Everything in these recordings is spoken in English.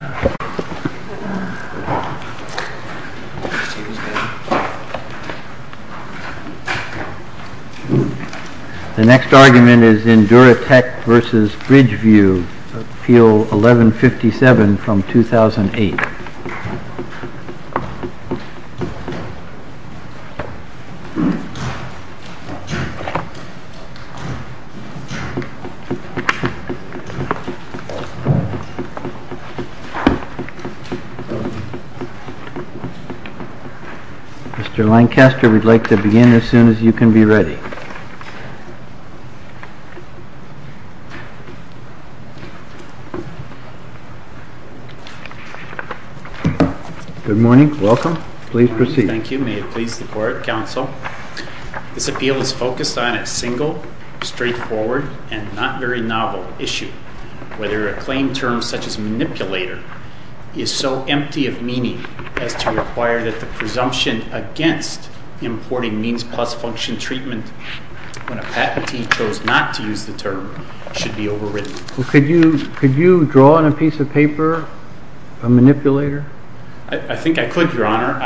The next argument is in Duratech v. Bridgeview, Appeal 1157 from 2008. Mr. Lancaster, we'd like to begin as soon as you can be ready. Good morning. Welcome. Please proceed. Thank you. May it please the Court, Counsel. This appeal is focused on a single, straightforward, and not very novel issue. Whether a claim term such as manipulator is so empty of meaning as to require that the presumption against importing means plus function treatment when a patentee chose not to use the term should be overridden. Could you draw on a piece of paper a manipulator? I think I could, Your Honor.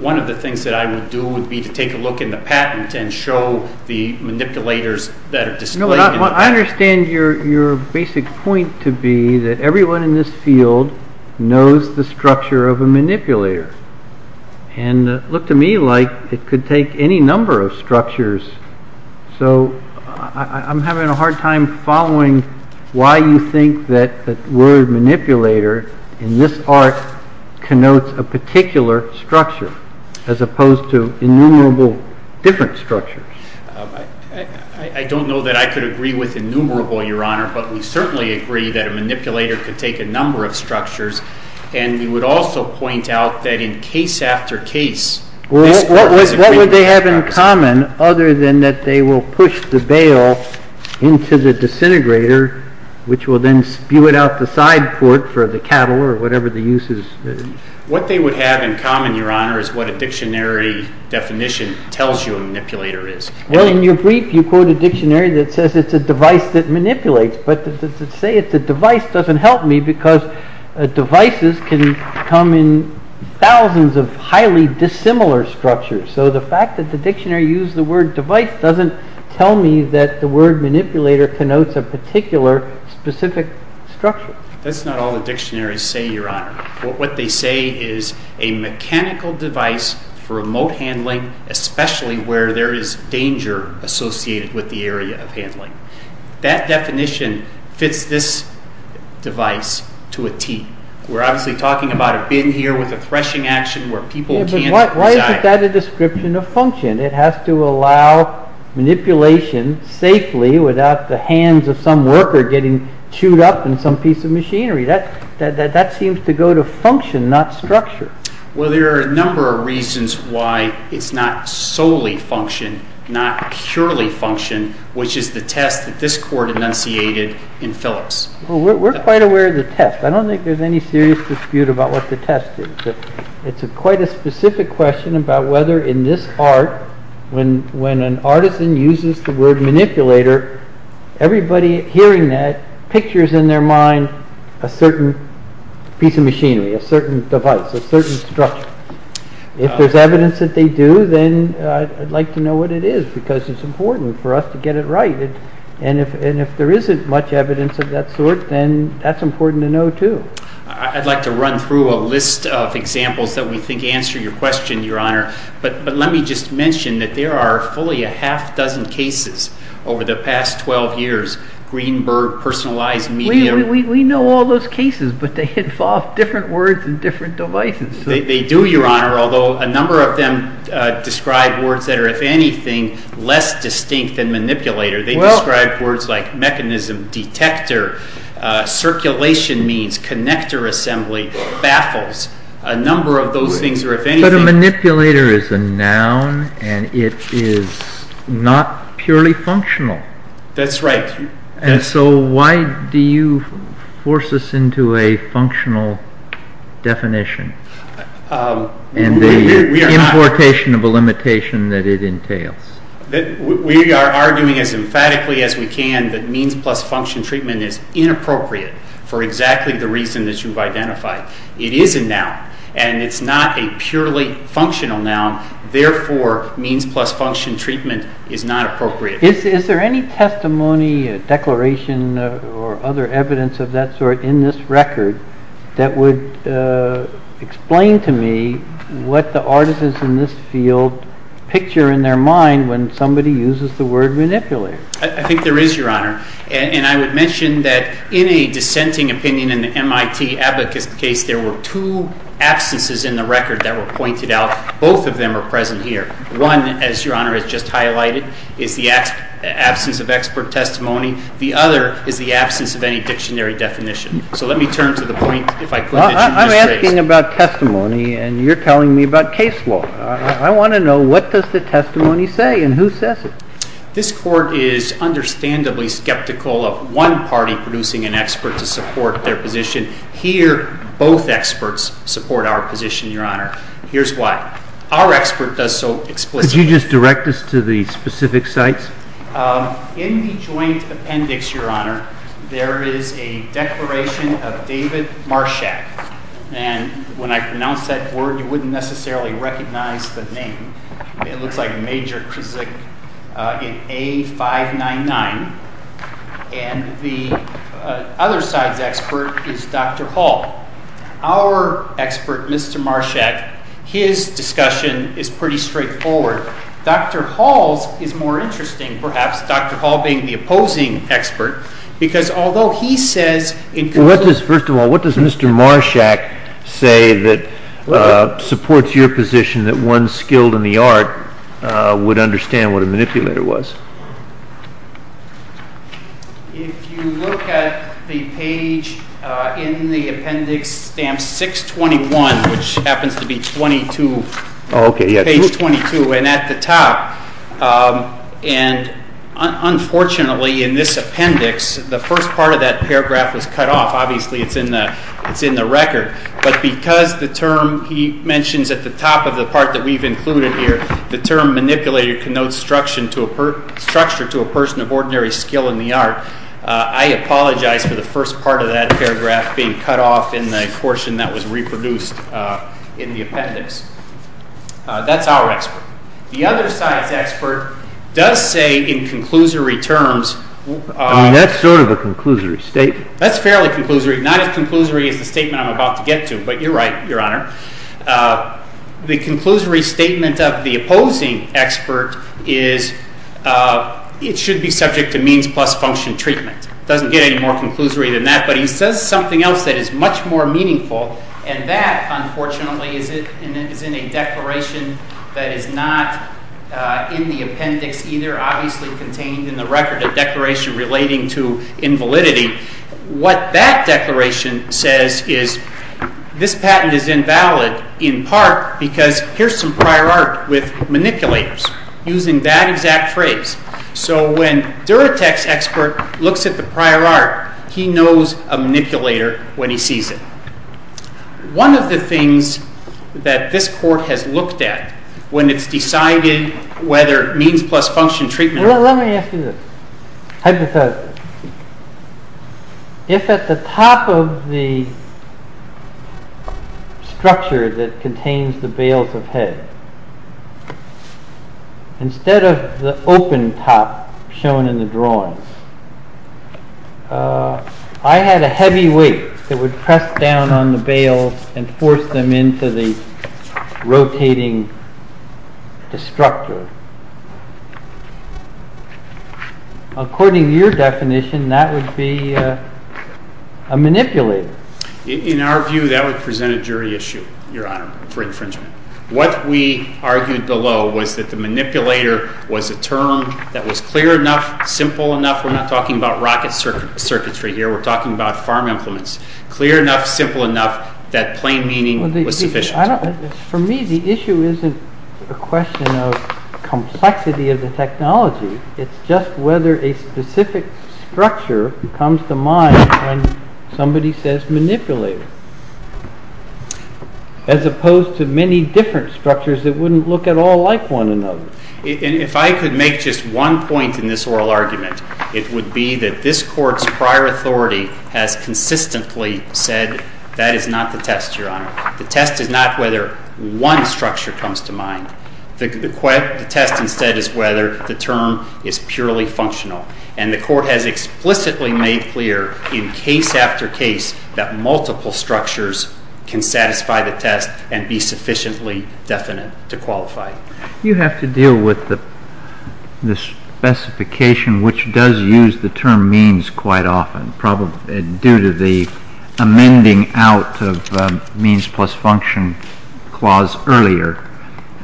One of the things that I would do would be to take a look in the patent and show the manipulators that are displayed. I understand your basic point to be that everyone in this field knows the structure of a manipulator. And it looked to me like it could take any number of structures. So I'm having a hard time following why you think that the word manipulator in this art connotes a particular structure as opposed to innumerable different structures. I don't know that I could agree with innumerable, Your Honor, but we certainly agree that a manipulator could take a number of structures. And we would also point out that in case after case, this group is a group of structures. What would they have in common other than that they will push the bale into the disintegrator, which will then spew it out the side foot for the cattle or whatever the use is? What they would have in common, Your Honor, is what a dictionary definition tells you a manipulator is. Well, in your brief, you quote a dictionary that says it's a device that manipulates. But to say it's a device doesn't help me because devices can come in thousands of highly dissimilar structures. So the fact that the dictionary used the word device doesn't tell me that the word manipulator connotes a particular specific structure. That's not all the dictionaries say, Your Honor. What they say is a mechanical device for remote handling, especially where there is danger associated with the area of handling. That definition fits this device to a tee. We're obviously talking about a bin here with a threshing action where people can't reside. But why isn't that a description of function? It has to allow manipulation safely without the hands of some worker getting chewed up in some piece of machinery. That seems to go to function, not structure. Well, there are a number of reasons why it's not solely function, not purely function, which is the test that this Court enunciated in Phillips. We're quite aware of the test. I don't think there's any serious dispute about what the test is. It's quite a specific question about whether in this art, when an artisan uses the word manipulator, everybody hearing that pictures in their mind a certain piece of machinery, a certain device, a certain structure. If there's evidence that they do, then I'd like to know what it is because it's important for us to get it right. And if there isn't much evidence of that sort, then that's important to know too. I'd like to run through a list of examples that we think answer your question, Your Honor. But let me just mention that there are fully a half dozen cases over the past 12 years, Greenberg, personalized media. We know all those cases, but they fall off different words and different devices. They do, Your Honor, although a number of them describe words that are, if anything, less distinct than manipulator. They describe words like mechanism, detector, circulation means, connector assembly, baffles. A number of those things are, if anything- But a manipulator is a noun and it is not purely functional. That's right. And so why do you force us into a functional definition and the importation of a limitation that it entails? We are arguing as emphatically as we can that means plus function treatment is inappropriate for exactly the reason that you've identified. It is a noun and it's not a purely functional noun. Therefore, means plus function treatment is not appropriate. Is there any testimony, declaration, or other evidence of that sort in this record that would explain to me what the artists in this field picture in their mind when somebody uses the word manipulator? I think there is, Your Honor. And I would mention that in a dissenting opinion in the MIT abacus case, there were two absences in the record that were pointed out. Both of them are present here. One, as Your Honor has just highlighted, is the absence of expert testimony. The other is the absence of any dictionary definition. So let me turn to the point, if I could, that you just raised. I'm asking about testimony and you're telling me about case law. I want to know what does the testimony say and who says it? This court is understandably skeptical of one party producing an expert to support their position. Here, both experts support our position, Your Honor. Here's why. Our expert does so explicitly. Could you just direct us to the specific sites? In the joint appendix, Your Honor, there is a declaration of David Marshak. And when I pronounce that word, you wouldn't necessarily recognize the name. It looks like Major Krizak in A599. And the other side's expert is Dr. Hall. Our expert, Mr. Marshak, his discussion is pretty straightforward. Dr. Hall's is more interesting, perhaps, Dr. Hall being the opposing expert. First of all, what does Mr. Marshak say that supports your position that one skilled in the art would understand what a manipulator was? If you look at the page in the appendix, stamp 621, which happens to be page 22 and at the top, and unfortunately, in this appendix, the first part of that paragraph is cut off. Obviously, it's in the record. But because the term he mentions at the top of the part that we've included here, the term manipulator connotes structure to a person of ordinary skill in the art, I apologize for the first part of that paragraph being cut off in the portion that was reproduced in the appendix. That's our expert. The other side's expert does say in conclusory terms. I mean, that's sort of a conclusory statement. That's fairly conclusory, not as conclusory as the statement I'm about to get to, but you're right, Your Honor. The conclusory statement of the opposing expert is it should be subject to means plus function treatment. It doesn't get any more conclusory than that, but he says something else that is much more meaningful, and that, unfortunately, is in a declaration that is not in the appendix either, obviously contained in the record, a declaration relating to invalidity. What that declaration says is this patent is invalid in part because here's some prior art with manipulators, using that exact phrase. So when Duratex's expert looks at the prior art, he knows a manipulator when he sees it. One of the things that this Court has looked at when it's decided whether means plus function treatment… Instead of the open top shown in the drawing, I had a heavy weight that would press down on the bales and force them into the rotating destructor. According to your definition, that would be a manipulator. In our view, that would present a jury issue, Your Honor, for infringement. What we argued below was that the manipulator was a term that was clear enough, simple enough. We're not talking about rocket circuitry here. We're talking about farm implements. Clear enough, simple enough, that plain meaning was sufficient. For me, the issue isn't a question of complexity of the technology. It's just whether a specific structure comes to mind when somebody says manipulator, as opposed to many different structures that wouldn't look at all like one another. If I could make just one point in this oral argument, it would be that this Court's prior authority has consistently said that is not the test, Your Honor. The test is not whether one structure comes to mind. The test instead is whether the term is purely functional. And the Court has explicitly made clear in case after case that multiple structures can satisfy the test and be sufficiently definite to qualify. You have to deal with the specification, which does use the term means quite often, probably due to the amending out of means plus function clause earlier.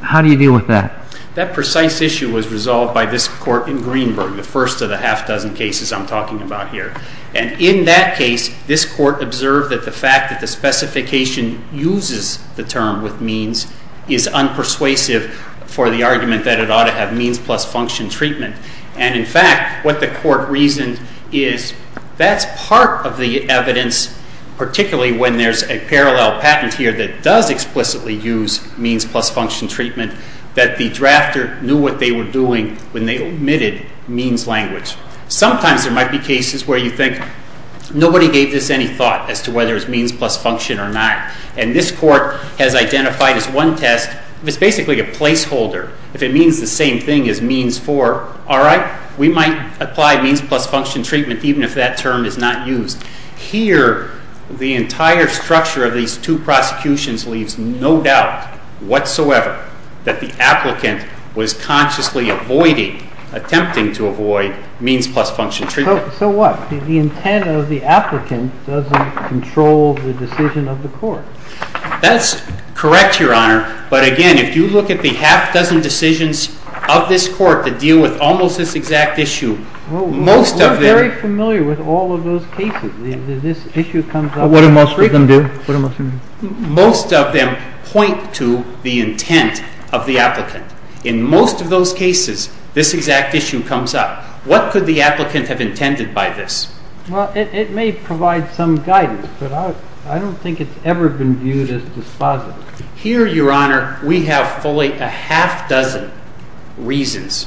How do you deal with that? That precise issue was resolved by this Court in Greenberg, the first of the half dozen cases I'm talking about here. And in that case, this Court observed that the fact that the specification uses the term with means is unpersuasive for the argument that it ought to have means plus function treatment. And in fact, what the Court reasoned is that's part of the evidence, particularly when there's a parallel patent here that does explicitly use means plus function treatment, that the drafter knew what they were doing when they omitted means language. Sometimes there might be cases where you think nobody gave this any thought as to whether it's means plus function or not. And this Court has identified as one test, it's basically a placeholder. If it means the same thing as means for, all right, we might apply means plus function treatment even if that term is not used. Here, the entire structure of these two prosecutions leaves no doubt whatsoever that the applicant was consciously avoiding, attempting to avoid, means plus function treatment. So what? The intent of the applicant doesn't control the decision of the Court. That's correct, Your Honor. But again, if you look at the half dozen decisions of this Court that deal with almost this exact issue, we're very familiar with all of those cases. This issue comes up. What do most of them do? Most of them point to the intent of the applicant. In most of those cases, this exact issue comes up. What could the applicant have intended by this? Well, it may provide some guidance, but I don't think it's ever been viewed as dispositive. Here, Your Honor, we have fully a half dozen reasons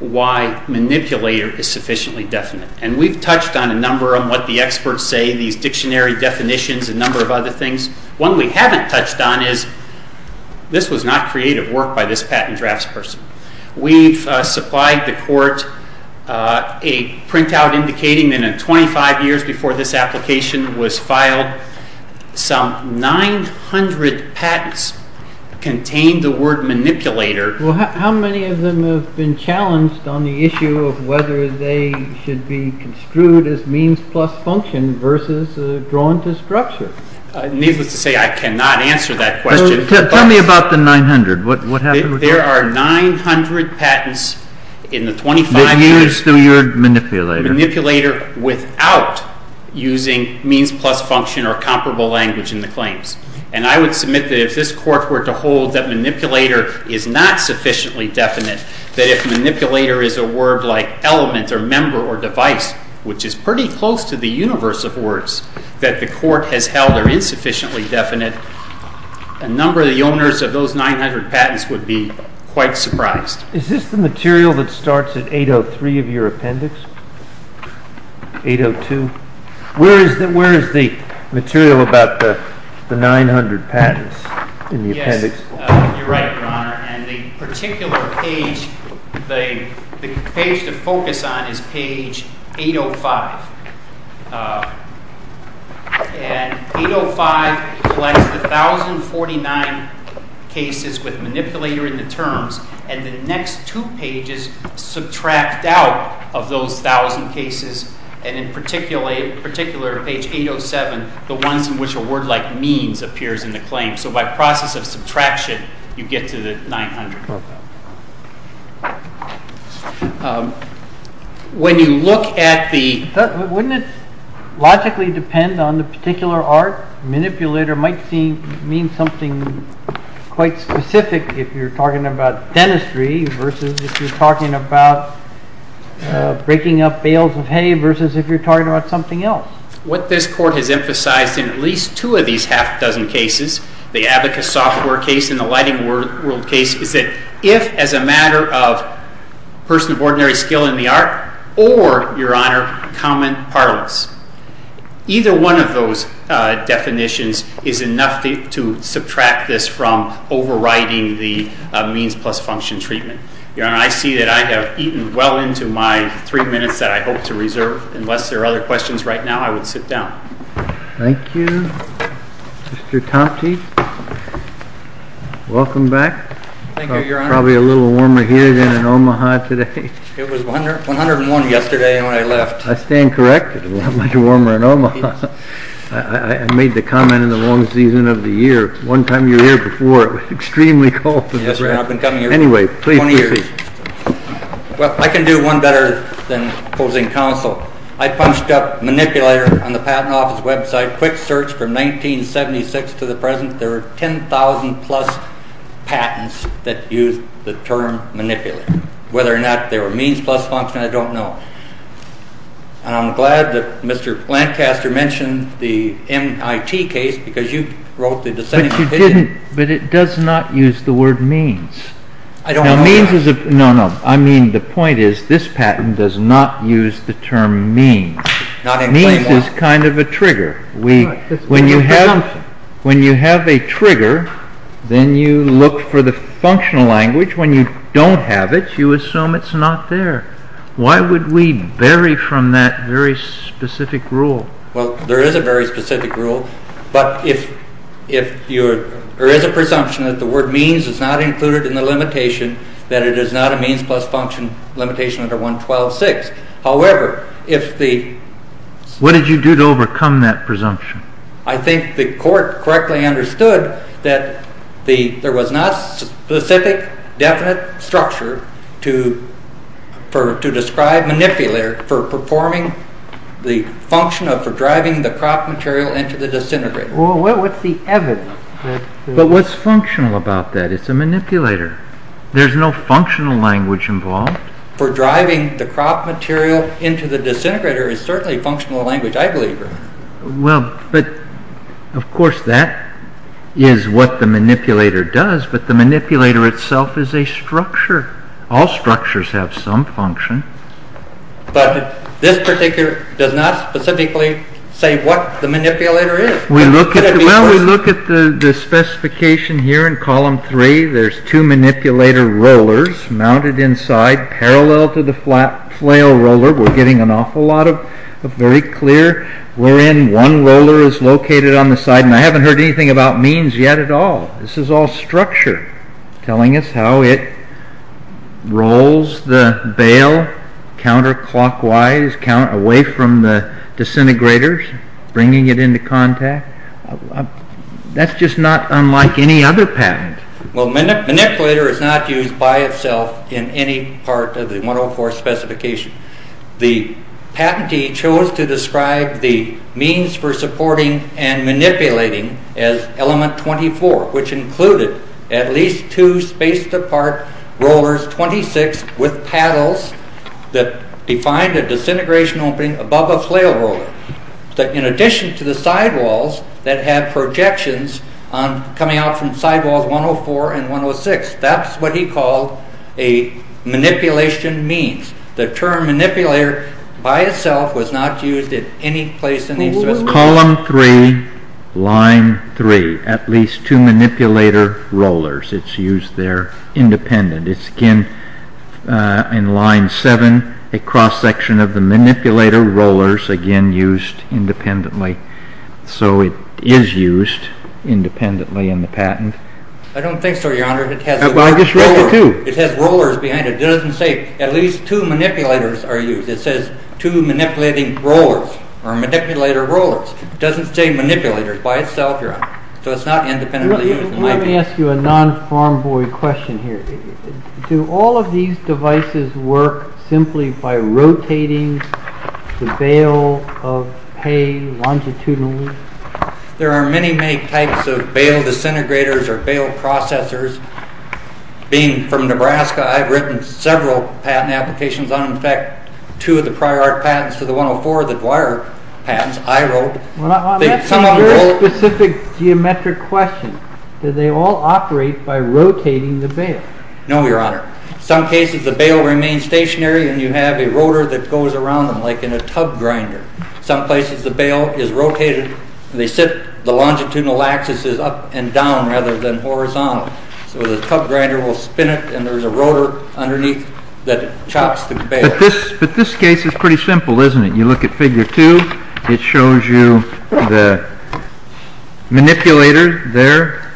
why manipulator is sufficiently definite, and we've touched on a number of them, what the experts say, these dictionary definitions, a number of other things. One we haven't touched on is this was not creative work by this patent drafts person. We've supplied the Court a printout indicating that in 25 years before this application was filed, we had some 900 patents contain the word manipulator. Well, how many of them have been challenged on the issue of whether they should be construed as means plus function versus drawn to structure? Needless to say, I cannot answer that question. Tell me about the 900. What happened? There are 900 patents in the 25 years manipulator without using means plus function or comparable language in the claims. And I would submit that if this Court were to hold that manipulator is not sufficiently definite, that if manipulator is a word like element or member or device, which is pretty close to the universe of words that the Court has held are insufficiently definite, a number of the owners of those 900 patents would be quite surprised. Is this the material that starts at 803 of your appendix, 802? Where is the material about the 900 patents in the appendix? Yes, you're right, Your Honor. And the particular page, the page to focus on is page 805. And 805 collects the 1,049 cases with manipulator in the terms, and the next two pages subtract out of those 1,000 cases, and in particular, page 807, the ones in which a word like means appears in the claim. So by process of subtraction, you get to the 900. When you look at the… Wouldn't it logically depend on the particular art? Manipulator might mean something quite specific if you're talking about dentistry versus if you're talking about breaking up bales of hay versus if you're talking about something else. What this Court has emphasized in at least two of these half-dozen cases, the abacus software case and the lighting world case, is that if, as a matter of person of ordinary skill in the art, or, Your Honor, common parlance, either one of those definitions is enough to subtract this from overriding the means plus function treatment. Your Honor, I see that I have eaten well into my three minutes that I hope to reserve. Unless there are other questions right now, I would sit down. Thank you. Mr. Compte, welcome back. Thank you, Your Honor. Probably a little warmer here than in Omaha today. It was 101 yesterday when I left. I stand corrected. It was a lot warmer in Omaha. I made the comment in the long season of the year. One time you were here before, it was extremely cold. Yes, Your Honor, I've been coming here for 20 years. Anyway, please proceed. Well, I can do one better than opposing counsel. I punched up manipulator on the Patent Office website. Quick search from 1976 to the present. There are 10,000-plus patents that use the term manipulator. Whether or not they were means plus function, I don't know. And I'm glad that Mr. Lancaster mentioned the MIT case because you wrote the dissenting opinion. But it does not use the word means. I don't know that. No, no. I mean, the point is this patent does not use the term means. Means is kind of a trigger. When you have a trigger, then you look for the functional language. When you don't have it, you assume it's not there. Why would we vary from that very specific rule? Well, there is a very specific rule. But there is a presumption that the word means is not included in the limitation, that it is not a means plus function limitation under 112.6. What did you do to overcome that presumption? I think the court correctly understood that there was not a specific, definite structure to describe manipulator for performing the function of driving the crop material into the disintegrator. Well, what's the evidence? But what's functional about that? It's a manipulator. There's no functional language involved. For driving the crop material into the disintegrator is certainly functional language, I believe. Well, but of course that is what the manipulator does, but the manipulator itself is a structure. All structures have some function. But this particular does not specifically say what the manipulator is. Well, we look at the specification here in column three. There's two manipulator rollers mounted inside parallel to the flail roller. We're getting an awful lot of very clear. We're in one roller is located on the side, and I haven't heard anything about means yet at all. This is all structure telling us how it rolls the bale counterclockwise, away from the disintegrators, bringing it into contact. That's just not unlike any other pattern. Well, manipulator is not used by itself in any part of the 104 specification. The patentee chose to describe the means for supporting and manipulating as element 24, which included at least two spaced apart rollers, 26, with paddles that defined a disintegration opening above a flail roller. But in addition to the sidewalls that have projections coming out from sidewalls 104 and 106, that's what he called a manipulation means. The term manipulator by itself was not used in any place in these specifications. Column three, line three, at least two manipulator rollers. It's used there independent. It's again in line seven, a cross-section of the manipulator rollers, again used independently. So it is used independently in the patent. I don't think so, Your Honor. I just read the two. It has rollers behind it. It doesn't say at least two manipulators are used. It says two manipulating rollers or manipulator rollers. It doesn't say manipulators by itself, Your Honor. So it's not independently used. Let me ask you a non-farm boy question here. Do all of these devices work simply by rotating the bale of hay longitudinally? There are many, many types of bale disintegrators or bale processors. Being from Nebraska, I've written several patent applications on them. In fact, two of the prior patents to the 104, the Dwyer patents, I wrote. That's a very specific geometric question. Do they all operate by rotating the bale? No, Your Honor. In some cases, the bale remains stationary, and you have a rotor that goes around them like in a tub grinder. In some places, the bale is rotated. The longitudinal axis is up and down rather than horizontal. So the tub grinder will spin it, and there's a rotor underneath that chops the bale. But this case is pretty simple, isn't it? You look at Figure 2. It shows you the manipulator there.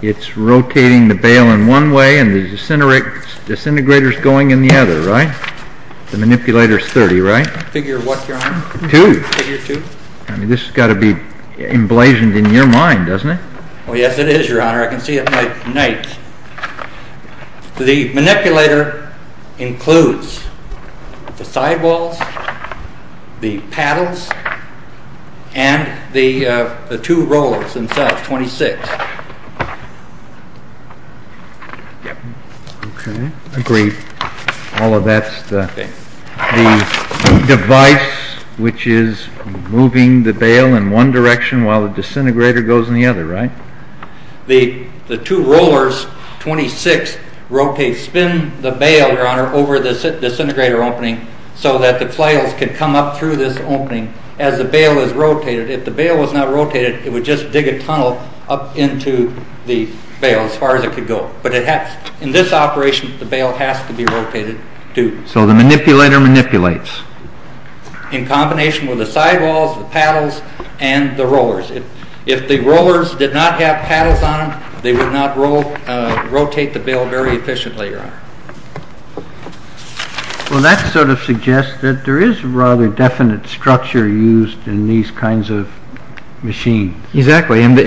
It's rotating the bale in one way, and the disintegrator is going in the other, right? The manipulator is 30, right? Figure what, Your Honor? 2. Figure 2? I mean, this has got to be emblazoned in your mind, doesn't it? Oh, yes, it is, Your Honor. I can see it at night. The manipulator includes the sidewalls, the paddles, and the two rollers and such, 26. Okay. Agreed. All of that's the device which is moving the bale in one direction while the disintegrator goes in the other, right? The two rollers, 26, spin the bale, Your Honor, over the disintegrator opening so that the flails can come up through this opening as the bale is rotated. If the bale was not rotated, it would just dig a tunnel up into the bale as far as it could go. But in this operation, the bale has to be rotated, too. So the manipulator manipulates. In combination with the sidewalls, the paddles, and the rollers. If the rollers did not have paddles on them, they would not rotate the bale very efficiently, Your Honor. Well, that sort of suggests that there is rather definite structure used in these kinds of machines. Exactly. And the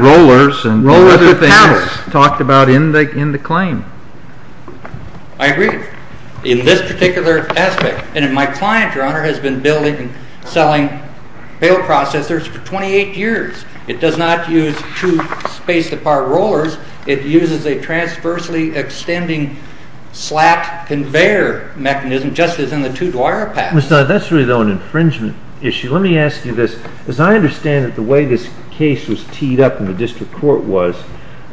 rollers and the other things talked about in the claim. I agree. In this particular aspect. And my client, Your Honor, has been building and selling bale processors for 28 years. It does not use two spaced apart rollers. It uses a transversely extending slat conveyor mechanism just as in the two Dwyer pads. That's really, though, an infringement issue. Let me ask you this. As I understand it, the way this case was teed up in the district court was,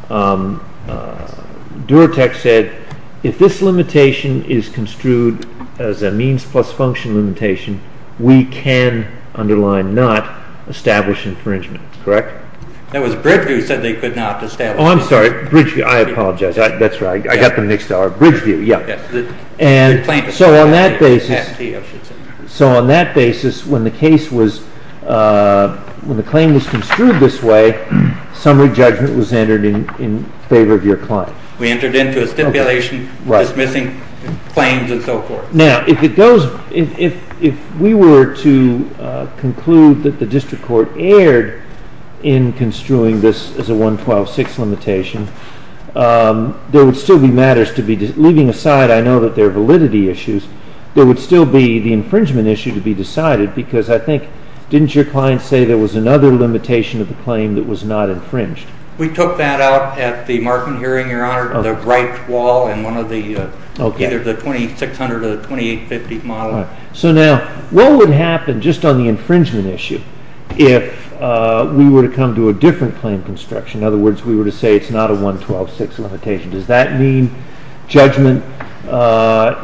Duratex said, if this limitation is construed as a means plus function limitation, we can underline not establish infringement. Correct? It was Bridgeview who said they could not establish infringement. Oh, I'm sorry. Bridgeview. I apologize. That's right. I got them mixed up. Bridgeview. So on that basis, when the claim was construed this way, summary judgment was entered in favor of your client. We entered into a stipulation dismissing claims and so forth. Now, if we were to conclude that the district court erred in construing this as a 112.6 limitation, there would still be matters to be— leaving aside, I know, that there are validity issues— there would still be the infringement issue to be decided because I think, didn't your client say there was another limitation of the claim that was not infringed? We took that out at the Markman hearing, Your Honor, to the right wall in either the 2600 or the 2850 model. So now, what would happen just on the infringement issue if we were to come to a different claim construction? In other words, we were to say it's not a 112.6 limitation. Does that mean judgment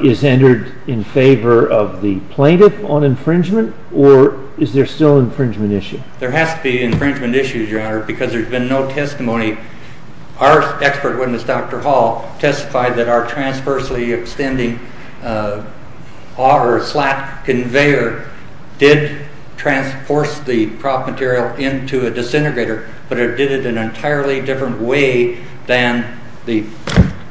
is entered in favor of the plaintiff on infringement, or is there still an infringement issue? There has to be infringement issues, Your Honor, because there's been no testimony. Our expert witness, Dr. Hall, testified that our transversely extending slat conveyor did transforce the prop material into a disintegrator, but it did it in an entirely different way than the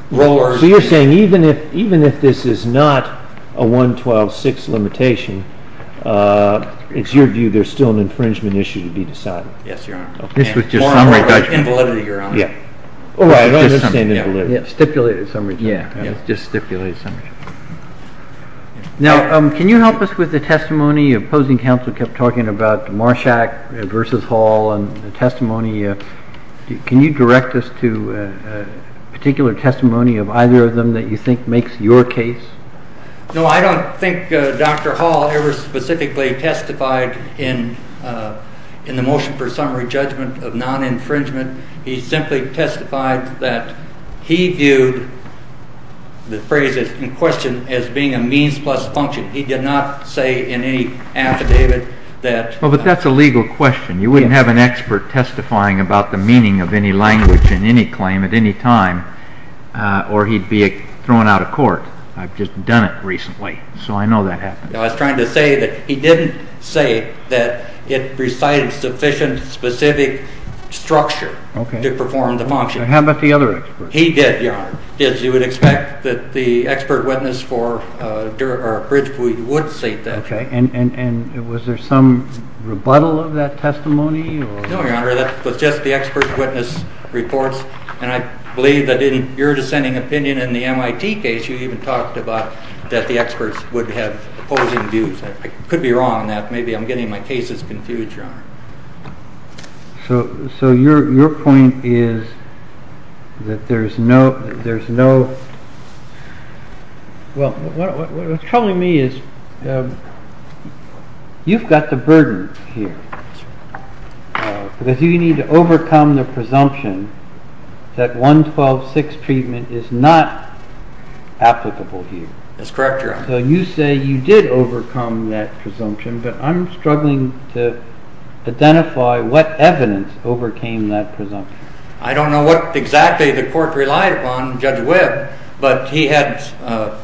rollers— So you're saying even if this is not a 112.6 limitation, it's your view there's still an infringement issue to be decided? Yes, Your Honor. More on the invalidity, Your Honor. Oh, I understand invalidity. Stipulated, for some reason. Yeah, just stipulated for some reason. Now, can you help us with the testimony? Opposing counsel kept talking about Marshak versus Hall and the testimony. Can you direct us to a particular testimony of either of them that you think makes your case? No, I don't think Dr. Hall ever specifically testified in the motion for summary judgment of non-infringement. He simply testified that he viewed the phrase in question as being a means plus function. He did not say in any affidavit that— Well, but that's a legal question. You wouldn't have an expert testifying about the meaning of any language in any claim at any time, or he'd be thrown out of court. I've just done it recently, so I know that happened. I was trying to say that he didn't say that it presided sufficient specific structure to perform the function. How about the other experts? He did, Your Honor, did. You would expect that the expert witness for Bridgewood would state that. Okay, and was there some rebuttal of that testimony? No, Your Honor, that was just the expert witness reports, and I believe that in your dissenting opinion in the MIT case you even talked about that the experts would have opposing views. I could be wrong on that. Maybe I'm getting my cases confused, Your Honor. So your point is that there's no— Well, what's troubling me is you've got the burden here, because you need to overcome the presumption that 112-6 treatment is not applicable here. That's correct, Your Honor. So you say you did overcome that presumption, but I'm struggling to identify what evidence overcame that presumption. I don't know what exactly the court relied upon Judge Webb, but he had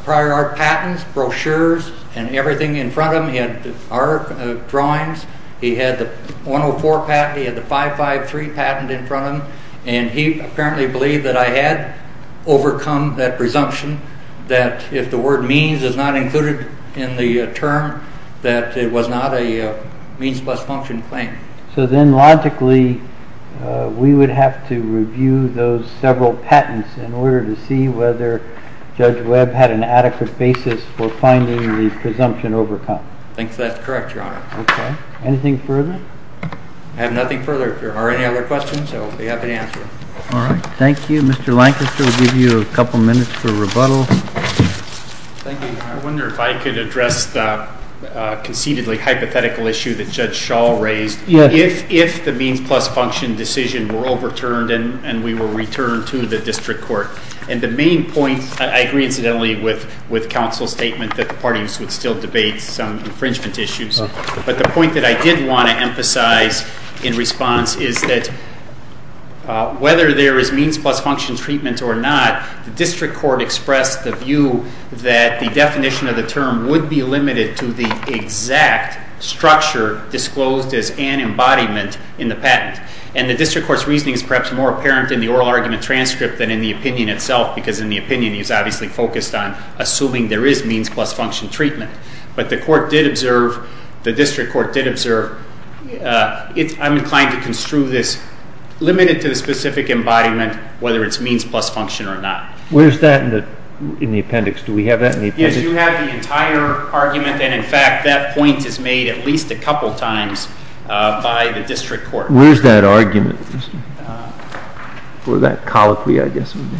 prior art patents, brochures, and everything in front of him. He had art drawings. He had the 104 patent. He had the 553 patent in front of him, and he apparently believed that I had overcome that presumption that if the word means is not included in the term, that it was not a means plus function claim. So then logically we would have to review those several patents in order to see whether Judge Webb had an adequate basis for finding the presumption overcome. I think that's correct, Your Honor. Okay. Anything further? I have nothing further. If there are any other questions, I'll be happy to answer them. All right. Thank you. Mr. Lancaster, we'll give you a couple minutes for rebuttal. Thank you. I wonder if I could address the conceitedly hypothetical issue that Judge Schall raised. Yes. If the means plus function decision were overturned and we were returned to the district court, and the main point, I agree incidentally with counsel's statement that the parties would still debate some infringement issues, but the point that I did want to emphasize in response is that whether there is means plus function treatment or not, the district court expressed the view that the definition of the term would be limited to the exact structure disclosed as an embodiment in the patent. And the district court's reasoning is perhaps more apparent in the oral argument transcript than in the opinion itself, because in the opinion he's obviously focused on assuming there is means plus function treatment. But the district court did observe, I'm inclined to construe this limited to the specific embodiment, whether it's means plus function or not. Where's that in the appendix? Do we have that in the appendix? Yes, you have the entire argument. And, in fact, that point is made at least a couple times by the district court. Where's that argument? Where that colloquy, I guess, would be.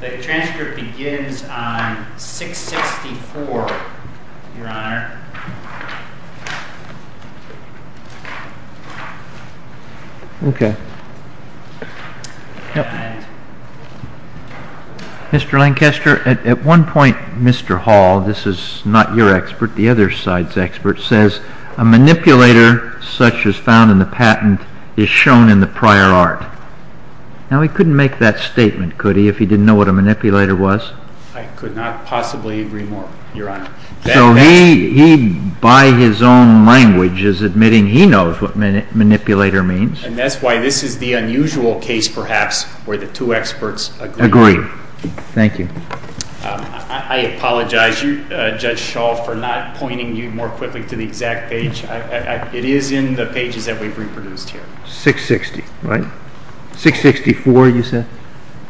The transcript begins on 664, Your Honor. Okay. Mr. Lancaster, at one point, Mr. Hall, this is not your expert, the other side's expert, says, a manipulator such as found in the patent is shown in the prior art. Now, he couldn't make that statement, could he, if he didn't know what a manipulator was? I could not possibly agree more, Your Honor. So he, by his own language, is admitting he knows what manipulator means. And that's why this is the unusual case, perhaps, where the two experts agree. Agree. Thank you. I apologize, Judge Schall, for not pointing you more quickly to the exact page. It is in the pages that we've reproduced here. 660, right? 664, you said?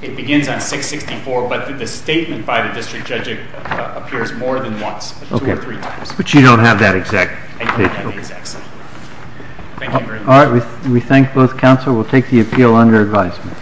It begins on 664, but the statement by the district judge appears more than once, two or three times. But you don't have that exact page. I don't have that exact statement. Thank you very much. All right. We thank both counsel. We'll take the appeal under advisement.